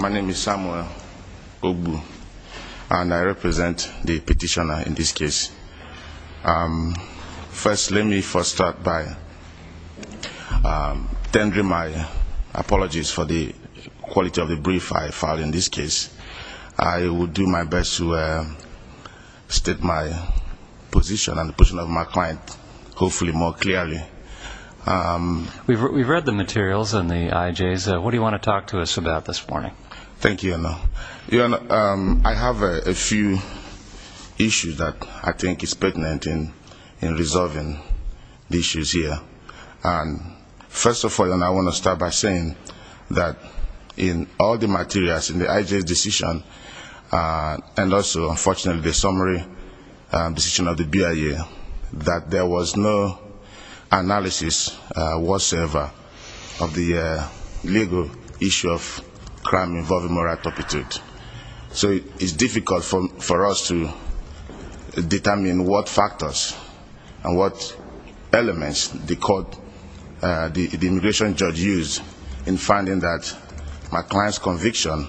My name is Samuel Ogbu and I represent the petitioner in this case. First, let me first start by tendering my apologies for the quality of the brief I filed in this case. I will do my best to state my position and the position of my client hopefully more clearly. We've read the materials in the IJs. What do you want to talk to us about this morning? Thank you, Your Honor. Your Honor, I have a few issues that I think is pertinent in resolving the issues here. First of all, Your Honor, I want to start by saying that in all the materials in the IJ's decision and also, unfortunately, the summary decision of the BIA, that there was no analysis whatsoever of the legal issue of crime involving moral aptitude. So it is difficult for us to determine what factors and what elements the immigration judge used in finding that my client's conviction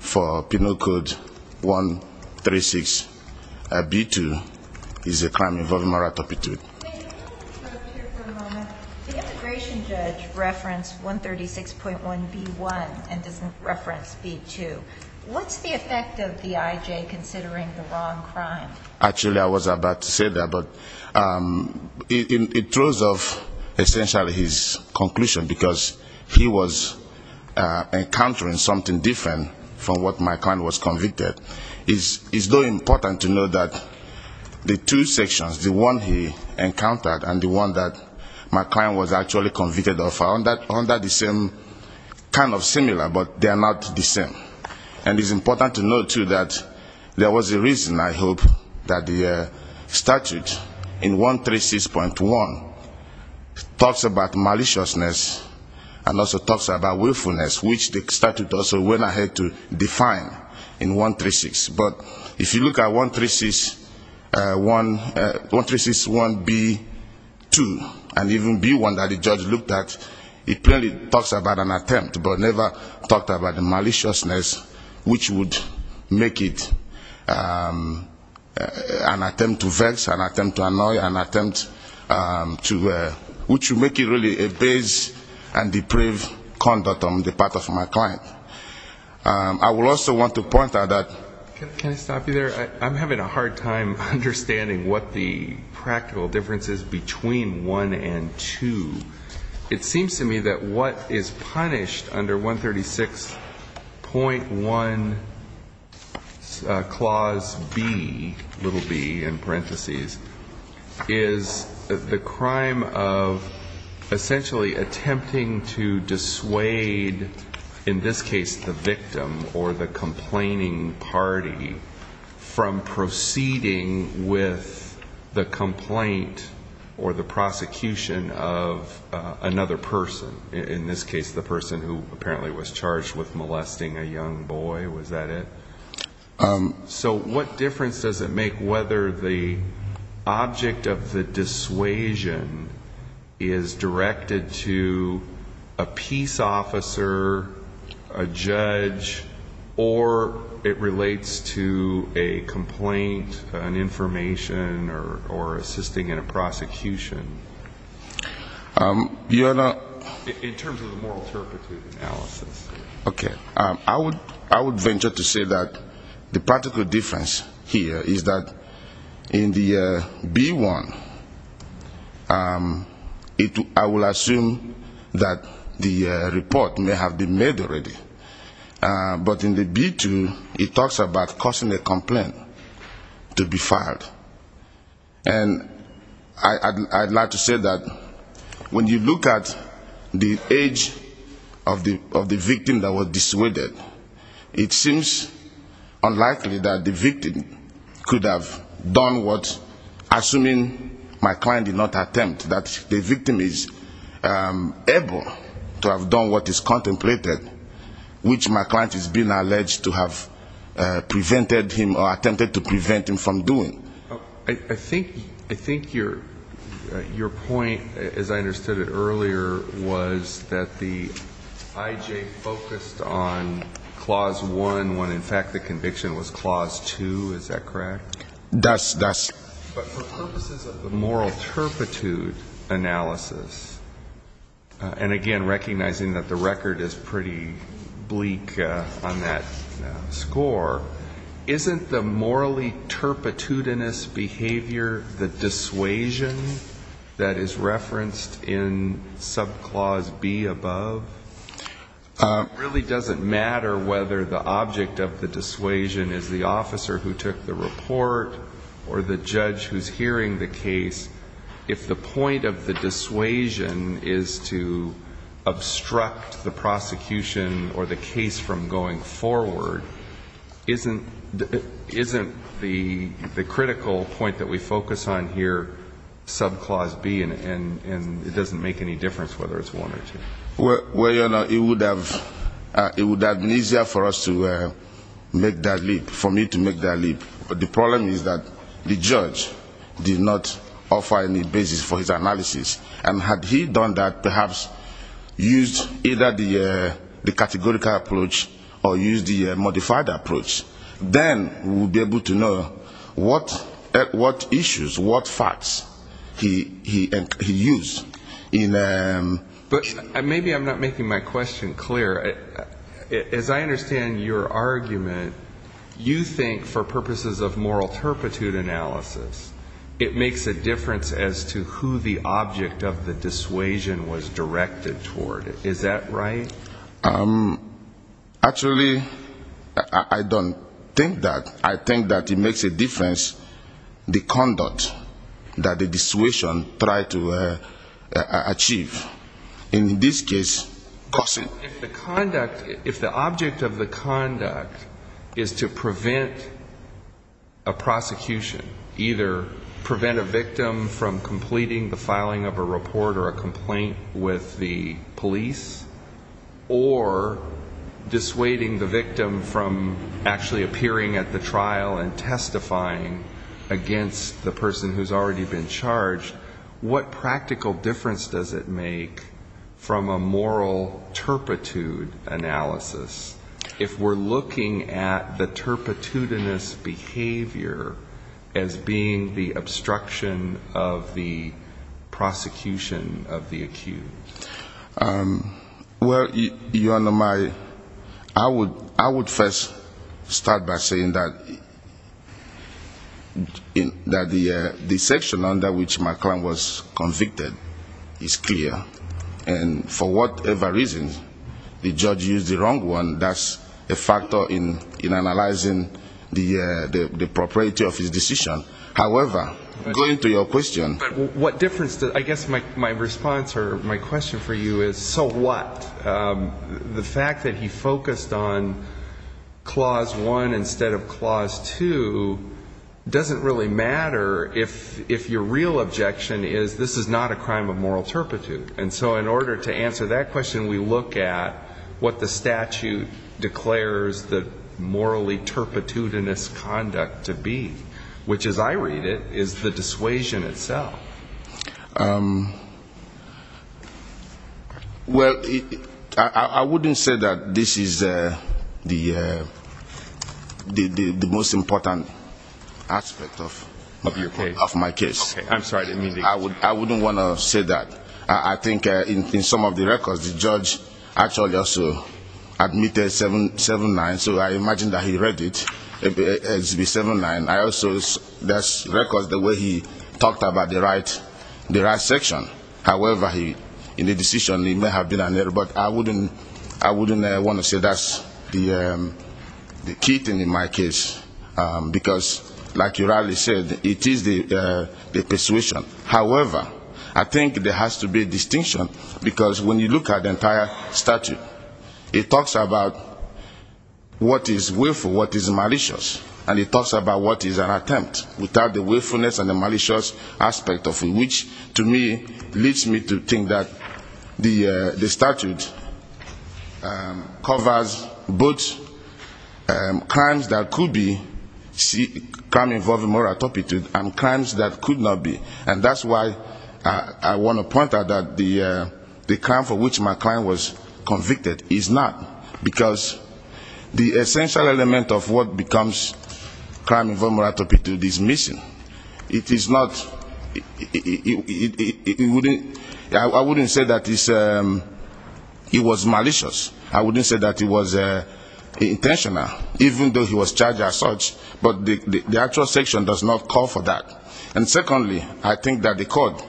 for Penal Code 136B2 is a crime involving moral aptitude. The immigration judge referenced 136.1B1 and doesn't reference B2. What's the effect of the IJ considering the wrong crime? Actually, I was about to say that, but it throws off essentially his conclusion because he was encountering something different from what my client was convicted. It's important to know that the two sections, the one he encountered and the one that my client was actually statute in 136.1 talks about maliciousness and also talks about willfulness, which the statute also went ahead to define in 136. But if you look at 136.1B2 and even B1 that the judge looked at, it clearly talks about an attempt but never talked about the maliciousness which would make it an attempt to vex, an attempt to annoy, an attempt to which would make it really a base and deprave conduct on the part of my client. I would also want to point out that can I stop you there? I'm having a hard time understanding what the practical difference is between 1 and 2. It seems to me that what is punished under 136.1 clause B, little b in parenthesis, is the crime of essentially attempting to dissuade, in this case, the victim or the complaining party from proceeding with the complaint or the prosecution of the crime. And I think that that's the difference between the two. So what difference does it make whether the object of the dissuasion is directed to a peace officer, a judge, or it relates to a complaint, an object of the dissuasion? In terms of the moral turpitude analysis. Okay. I would venture to say that the practical difference here is that in the B1, I will assume that the report may have been made already. But in the B2, it talks about causing a complaint to be filed. And I'd like to say that when you look at the B2, it talks about causing a complaint to be filed. And I'd like to say that when you look at the B2, it talks about causing a complaint to be filed. And I'd like to say that when you look at the age of the victim that was dissuaded, it seems unlikely that the victim could have done what, assuming my client did not attempt, that the victim is able to have done what is contemplated, which my client has been alleged to have prevented him or attempted to prevent him from doing. I think your point, as I understood it earlier, was that the IJ focused on Clause 1, when in fact the conviction was Clause 2. Is that correct? That's correct. But for purposes of the moral turpitude analysis, and again, recognizing that the record is pretty bleak on that score, isn't the morally turpitude analysis, Hominous Behavior, the dissuasion that is referenced in sub-Clause B above, really doesn't matter whether the object of the dissuasion is the officer who took the report or the judge who's hearing the case. If the point of the dissuasion is to obstruct the prosecution or the case from going forward, isn't the critical point that we focus on here sub-Clause B and it doesn't make any difference whether it's one or two? Well, you know, it would have been easier for us to make that leap, for me to make that leap. But the problem is that the judge did not offer any basis for his analysis. And had he done that, perhaps used either the categorical approach or used the modified approach, then we would be able to know what issues, what facts he used. But maybe I'm not making my question clear. As I understand your argument, you think for purposes of moral turpitude analysis, it makes a difference as to who the object of the dissuasion was directed toward. Is that right? Actually, I don't think that. I think that it makes a difference the conduct that the dissuasion tried to achieve. In this case, cussing. If the object of the conduct is to prevent a prosecution, either prevent a victim from completing the filing of a report or a complaint with the police, or dissuading the victim from actually appearing at the trial and testifying against the person who's already been charged, what practical difference does it make from a moral turpitude analysis if we're looking at the turpitudinous behavior as being the obstruction of the prosecution of the case? I would first start by saying that the section under which my client was convicted is clear. And for whatever reason, the judge used the wrong one. That's a factor in analyzing the propriety of his decision. However, going to your question. I guess my response or my question for you is, so what? The fact that he focused on Clause 1 instead of Clause 2 doesn't really matter if your real objection is this is not a crime of moral turpitude. And so in order to answer that question, we look at what the statute declares the morally turpitudinous conduct to be, which, as I read it, is the dissuasion itself. Well, I wouldn't say that this is the most important aspect of my case. I wouldn't want to say that. I think in some of the records, the judge actually also admitted 7-9, so I imagine that he read it. It's the 7-9. I also, there's records the way he talked about the right of the right section. However, in the decision, it may have been an error. But I wouldn't want to say that's the key thing in my case. Because, like you rightly said, it is the dissuasion. However, I think there has to be distinction. Because when you look at the entire statute, it talks about what is willful, what is malicious. And it talks about what is an attempt. Without the willfulness and the malicious aspect of the statute. Which, to me, leads me to think that the statute covers both crimes that could be crime involving moral turpitude and crimes that could not be. And that's why I want to point out that the crime for which my client was convicted is not. Because the essential element of what becomes crime involving moral turpitude is missing. It is not. I wouldn't say that it was malicious. I wouldn't say that it was intentional. Even though he was charged as such. But the actual section does not call for that. And secondly, I think that the court,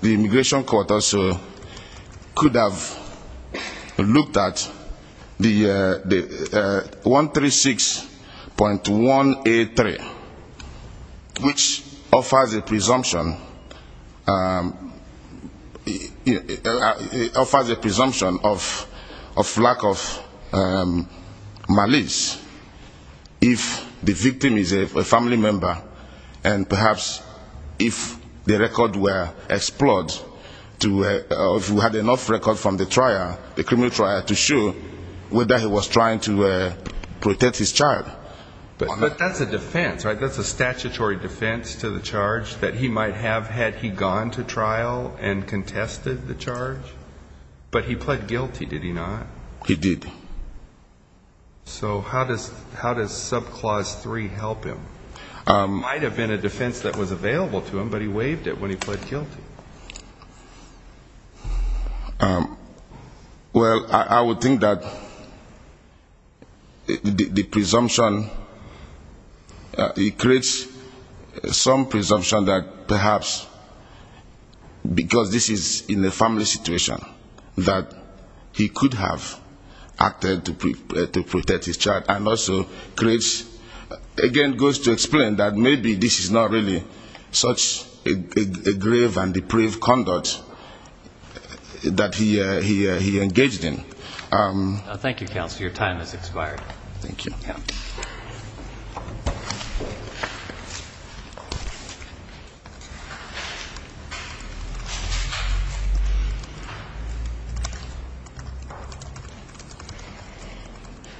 the immigration court also, could have looked at the 136.183. I think that the immigration court could have looked at the 136.183. I think that the immigration court could have looked at the 136.183. I think that the immigration court could have looked at the 136.183. Which offers a presumption of lack of malice if the victim is a family member. And perhaps if the record were explored, if we had enough record from the trial, the criminal trial, to show whether he was trying to protect his child. But that's a defense, right? That's a statutory defense to the charge that he might have had he gone to trial and contested the charge? But he pled guilty, did he not? He did. So how does subclause three help him? It might have been a defense that was available to him, but he waived it when he pled guilty. Well, I would think that the presumption, it creates some presumption that perhaps, because this is in a family situation, that he could have acted to protect his child. And also creates, again, goes to explain that maybe this is not really such a grave and difficult situation. And that perhaps that could have been a pre-convict that he engaged in. Thank you, counsel. Your time has expired.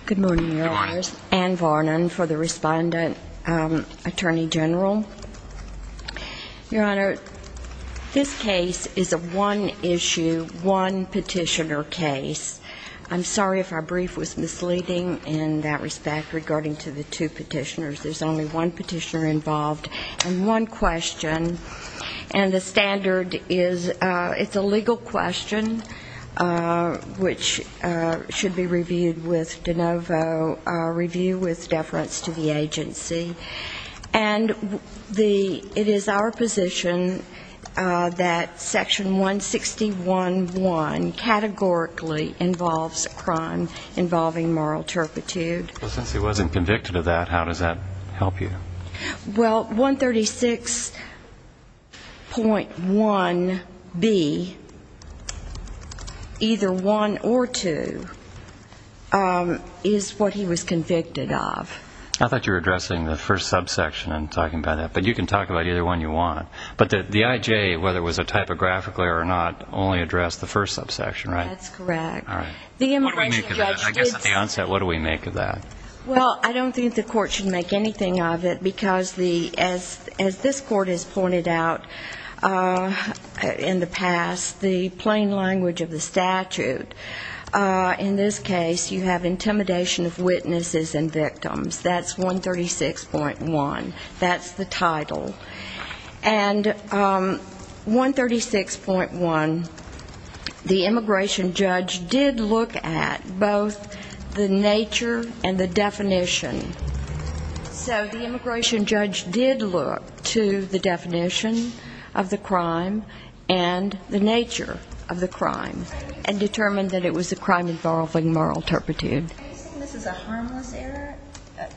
Good morning, your honors. Ann Varnon for the respondent, attorney general. Your honor, this case is a one-issue, one-petitioner case. I'm sorry if our brief was misleading in that respect regarding to the two petitioners. There's only one petitioner involved and one question. And the standard is it's a legal question, which should be reviewed with de novo review with deference to the agency. And it is our position that section 161.1 categorically involves a crime involving moral turpitude. Well, since he wasn't convicted of that, how does that help you? Well, 136.1B, either one or two, is what he was convicted of. I thought you were addressing the first subsection and talking about that. But you can talk about either one you want. But the IJ, whether it was a typographically or not, only addressed the first subsection, right? That's correct. I guess at the onset, what do we make of that? Well, I don't think the court should make anything of it, because as this court has pointed out in the past, the plain language of the statute, in this case you have intimidation of witnesses and victims. That's 136.1. That's the title. And 136.1, the immigration judge did look at both the nature and the definition. So the immigration judge did look to the definition of the crime and the nature of the crime, and determined that it was a crime involving moral turpitude. I think this is a harmless error.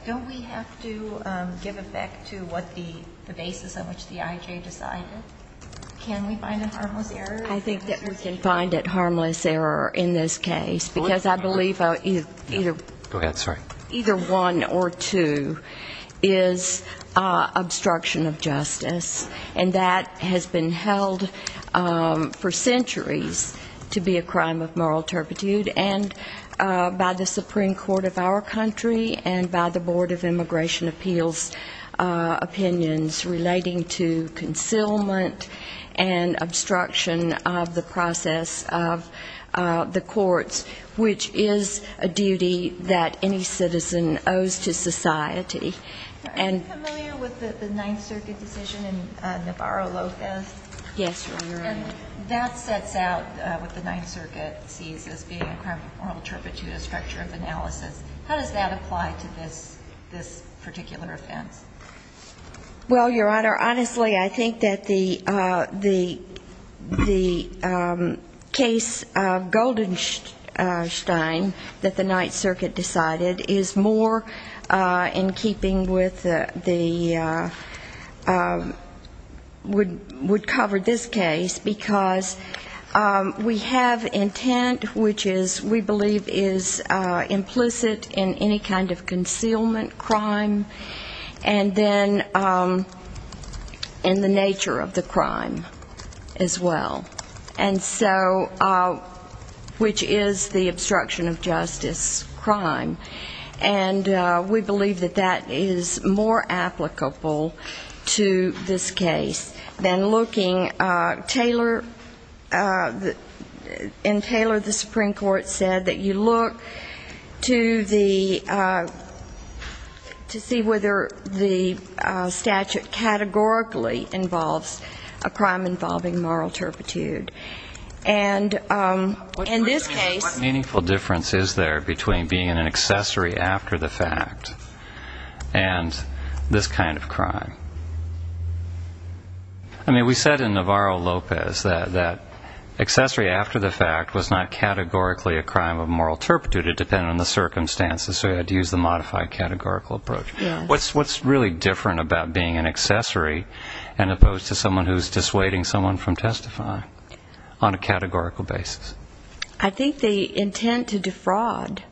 Don't we have to give effect to what the basis on which the IJ decided? Can we find a harmless error? I think that we can find a harmless error in this case, because I believe either one or two is obstruction of justice. And that has been held for centuries to be a crime of moral turpitude. And by the Supreme Court of our country and by the Board of Immigration Appeals opinions relating to concealment and obstruction of the process of the courts, which is a duty that any citizen owes to society. Are you familiar with the Ninth Circuit decision in Navarro-Lopez? Yes, Your Honor. And that sets out what the Ninth Circuit sees as being a crime of moral turpitude, a structure of analysis. How does that apply to this particular offense? Well, Your Honor, honestly, I think that the case of Goldenstein that the Ninth Circuit decided is more in keeping with the Woodcock case, and we covered this case because we have intent, which we believe is implicit in any kind of concealment crime, and then in the nature of the crime as well, which is the obstruction of justice crime. And we believe that that is more applicable to this case than looking at the nature of the crime. And Taylor, the Supreme Court, said that you look to see whether the statute categorically involves a crime involving moral turpitude. And in this case ---- What meaningful difference is there between being an accessory after the fact and this kind of crime? Well, you said in Navarro-Lopez that accessory after the fact was not categorically a crime of moral turpitude. It depended on the circumstances, so you had to use the modified categorical approach. What's really different about being an accessory as opposed to someone who's dissuading someone from testifying on a categorical basis? I think they intend to defraud.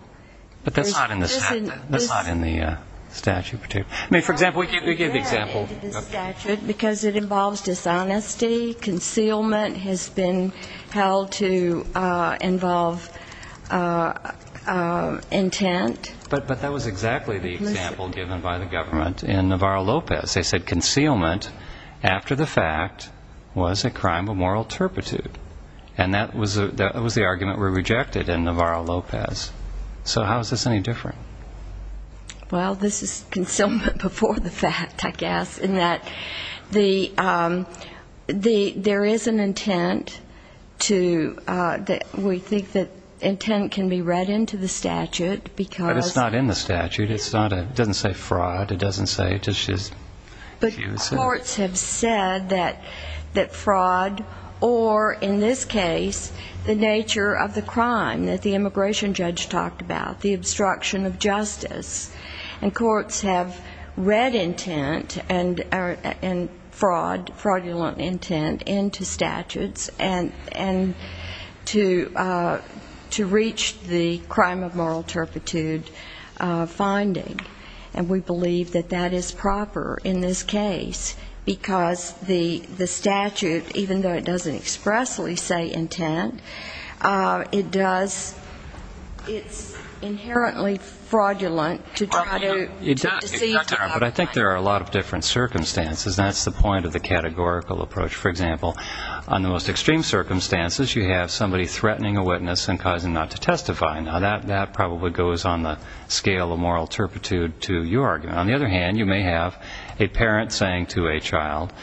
But that's not in the statute. It's not in the statute. But that was exactly the example given by the government in Navarro-Lopez. They said concealment after the fact was a crime of moral turpitude. And that was the argument we rejected in Navarro-Lopez. So how is this any different? Well, this is concealment before the fact, I guess, in that there is an intent to ---- We think that intent can be read into the statute because ---- But it's not in the statute. It doesn't say fraud. It doesn't say ---- But courts have said that fraud or, in this case, the nature of the crime that the immigration judge talked about, the obstruction of justice. And courts have read intent and fraud, fraudulent intent into statutes and to reach the crime of moral turpitude finding. And we believe that that is proper in this case because the statute, even though it doesn't expressly say intent, it does ---- It's inherently fraudulent to try to deceive the public. But I think there are a lot of different circumstances. And that's the point of the categorical approach. For example, on the most extreme circumstances, you have somebody threatening a witness and causing them not to testify. Now, that probably goes on the scale of moral turpitude to your argument. On the other hand, you may have a parent saying to a child,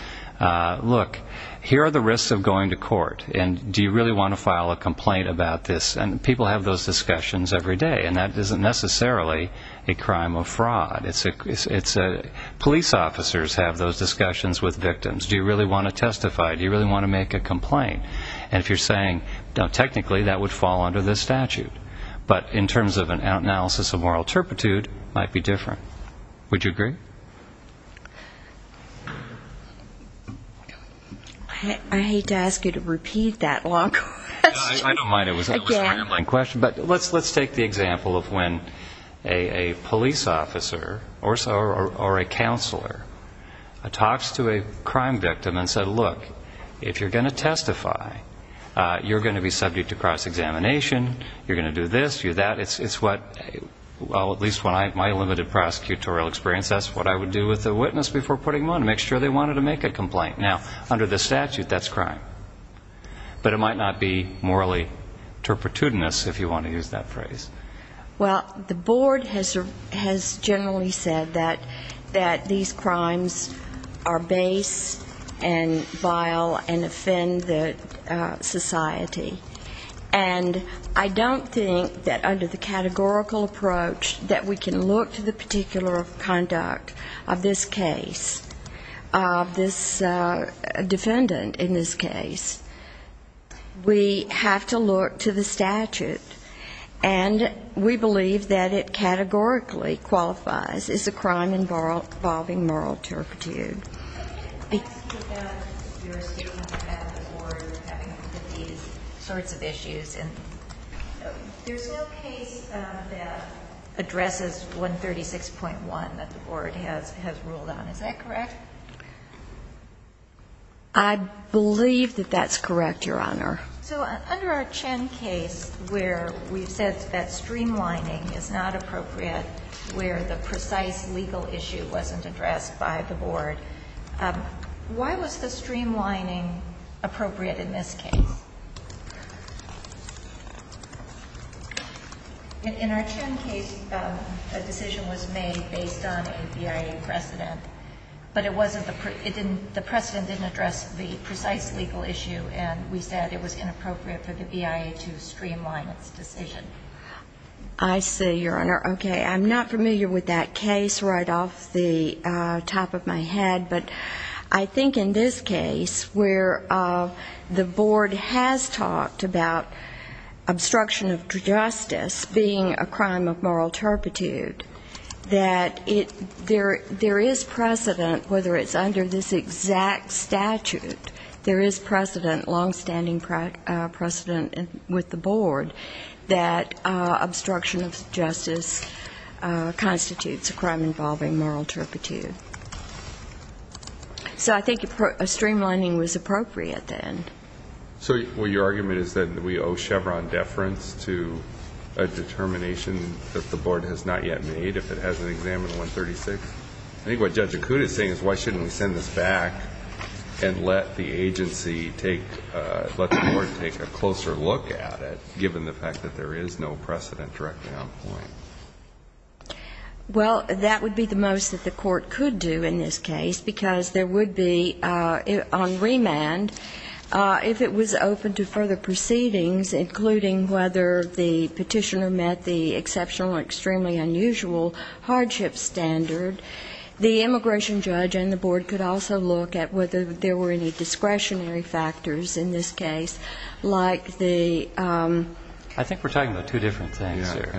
look, here are the risks of going to court. And do you really want to file a complaint about this? And people have those discussions every day. And that isn't necessarily a crime of fraud. Police officers have those discussions with victims. Do you really want to testify? Do you really want to make a complaint? And if you're saying technically that would fall under this statute. But in terms of an analysis of moral turpitude, it might be different. Would you agree? I hate to ask you to repeat that long question again. But let's take the example of when a police officer or a counselor talks to a crime victim and says, look, if you're going to testify, you're going to be subject to cross-examination. You're going to do this, do that. It's what, well, at least in my limited prosecutorial experience, that's what I would do with a witness before putting them on to make sure they wanted to make a complaint. Now, under the statute, that's crime. But it might not be morally turpitudinous, if you want to use that phrase. Well, the board has generally said that these crimes are base and vile and offend society. And I don't think that under the categorical approach that we can look to the particular conduct of this case, of this defendant in this case, we have to look to the statute. And we believe that it categorically qualifies as a crime involving moral turpitude. Can I ask you about your statement about the board having looked at these sorts of issues? And there's no case that addresses 136.1 that the board has ruled on. Is that correct? I believe that that's correct, Your Honor. So under our Chen case, where we've said that streamlining is not appropriate, where the precise legal issue wasn't addressed by the board, why was the streamlining appropriate in this case? In our Chen case, a decision was made based on a BIA precedent, but it wasn't the precedent didn't address the precise legal issue, and we said it was inappropriate for the BIA to streamline its decision. I see, Your Honor. Okay. I'm not familiar with that case right off the top of my head. But I think in this case, where the board has talked about obstruction of justice being a crime of moral turpitude, that there is precedent, whether it's under the statute or under this exact statute, there is precedent, longstanding precedent with the board that obstruction of justice constitutes a crime involving moral turpitude. So I think streamlining was appropriate then. So your argument is that we owe Chevron deference to a determination that the board has not yet made if it hasn't examined 136? I think what Judge Akuta is saying is why shouldn't we send this back and let the agency take the board take a closer look at it, given the fact that there is no precedent directly on point? Well, that would be the most that the court could do in this case, because there would be on remand, if it was open to further proceedings, including whether the petitioner met the exceptional or extremely unusual hardship standard, the immigration judge and the board could also look at whether there were any discretionary factors in this case, like the ---- I think we're talking about two different things here.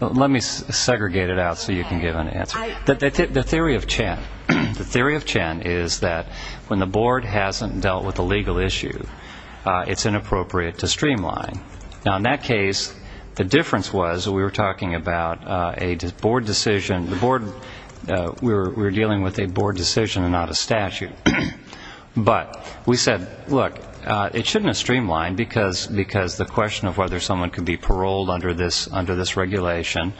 Let me segregate it out so you can give an answer. The theory of Chen is that when the board hasn't dealt with a legal issue, it's inappropriate to streamline. Now, in that case, the difference was we were talking about a board decision. The board, we were dealing with a board decision and not a statute. But we said, look, it shouldn't have streamlined, because the question of whether someone could be paroled under this regulation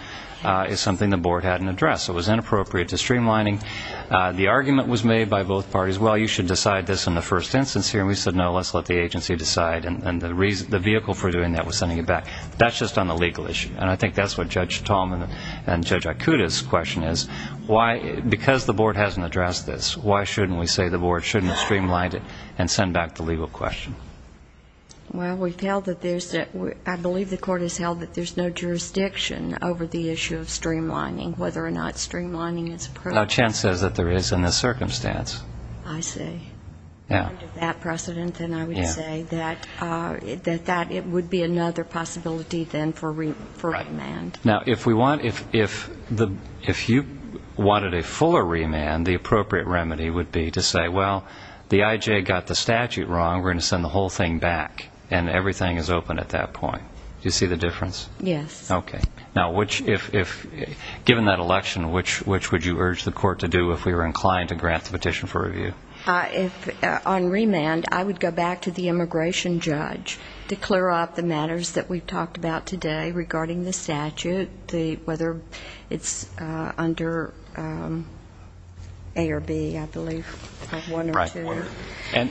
is something the board hadn't addressed. It was inappropriate to streamline. The argument was made by both parties, well, you should decide this in the first instance here. And we said, no, let's let the agency decide. And the vehicle for doing that was sending it back. That's just on the legal issue. And I think that's what Judge Tallman and Judge Ikuda's question is. Because the board hasn't addressed this, why shouldn't we say the board shouldn't streamline it and send back the legal question? Well, I believe the court has held that there's no jurisdiction over the issue of streamlining, whether or not streamlining is appropriate. Now, Chen says that there is in this circumstance. I see. Under that precedent, then I would say that it would be another possibility then for remand. Now, if you wanted a fuller remand, the appropriate remedy would be to say, well, the IJ got the statute wrong. We're going to send the whole thing back, and everything is open at that point. Do you see the difference? Yes. Now, given that election, which would you urge the court to do if we were inclined to grant the petition for review? On remand, I would go back to the immigration judge to clear up the matters that we've talked about today regarding the statute, whether it's under A or B, I believe, one or two. But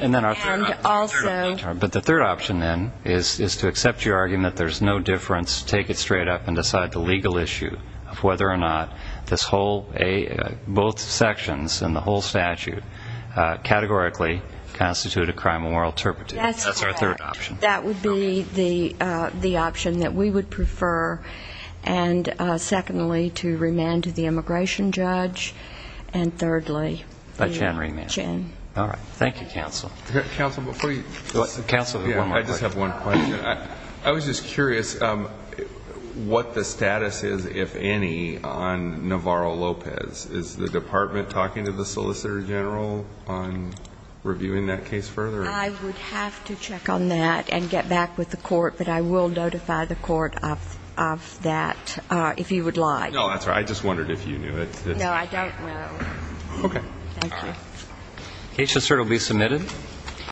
the third option, then, is to accept your argument that there's no difference, take it straight up, and decide the legal issue of whether or not both sections and the whole statute categorically constitute a crime of moral turpitude. That's our third option. That would be the option that we would prefer, and secondly, to remand to the immigration judge, and thirdly, the election. All right. Thank you, counsel. Counsel, I just have one question. I was just curious what the status is, if any, on Navarro-Lopez. Is the department talking to the solicitor general on reviewing that case further? I would have to check on that and get back with the court, but I will notify the court of that, if he would like. No, that's all right. I just wondered if you knew. No, I don't know. Okay. Thank you.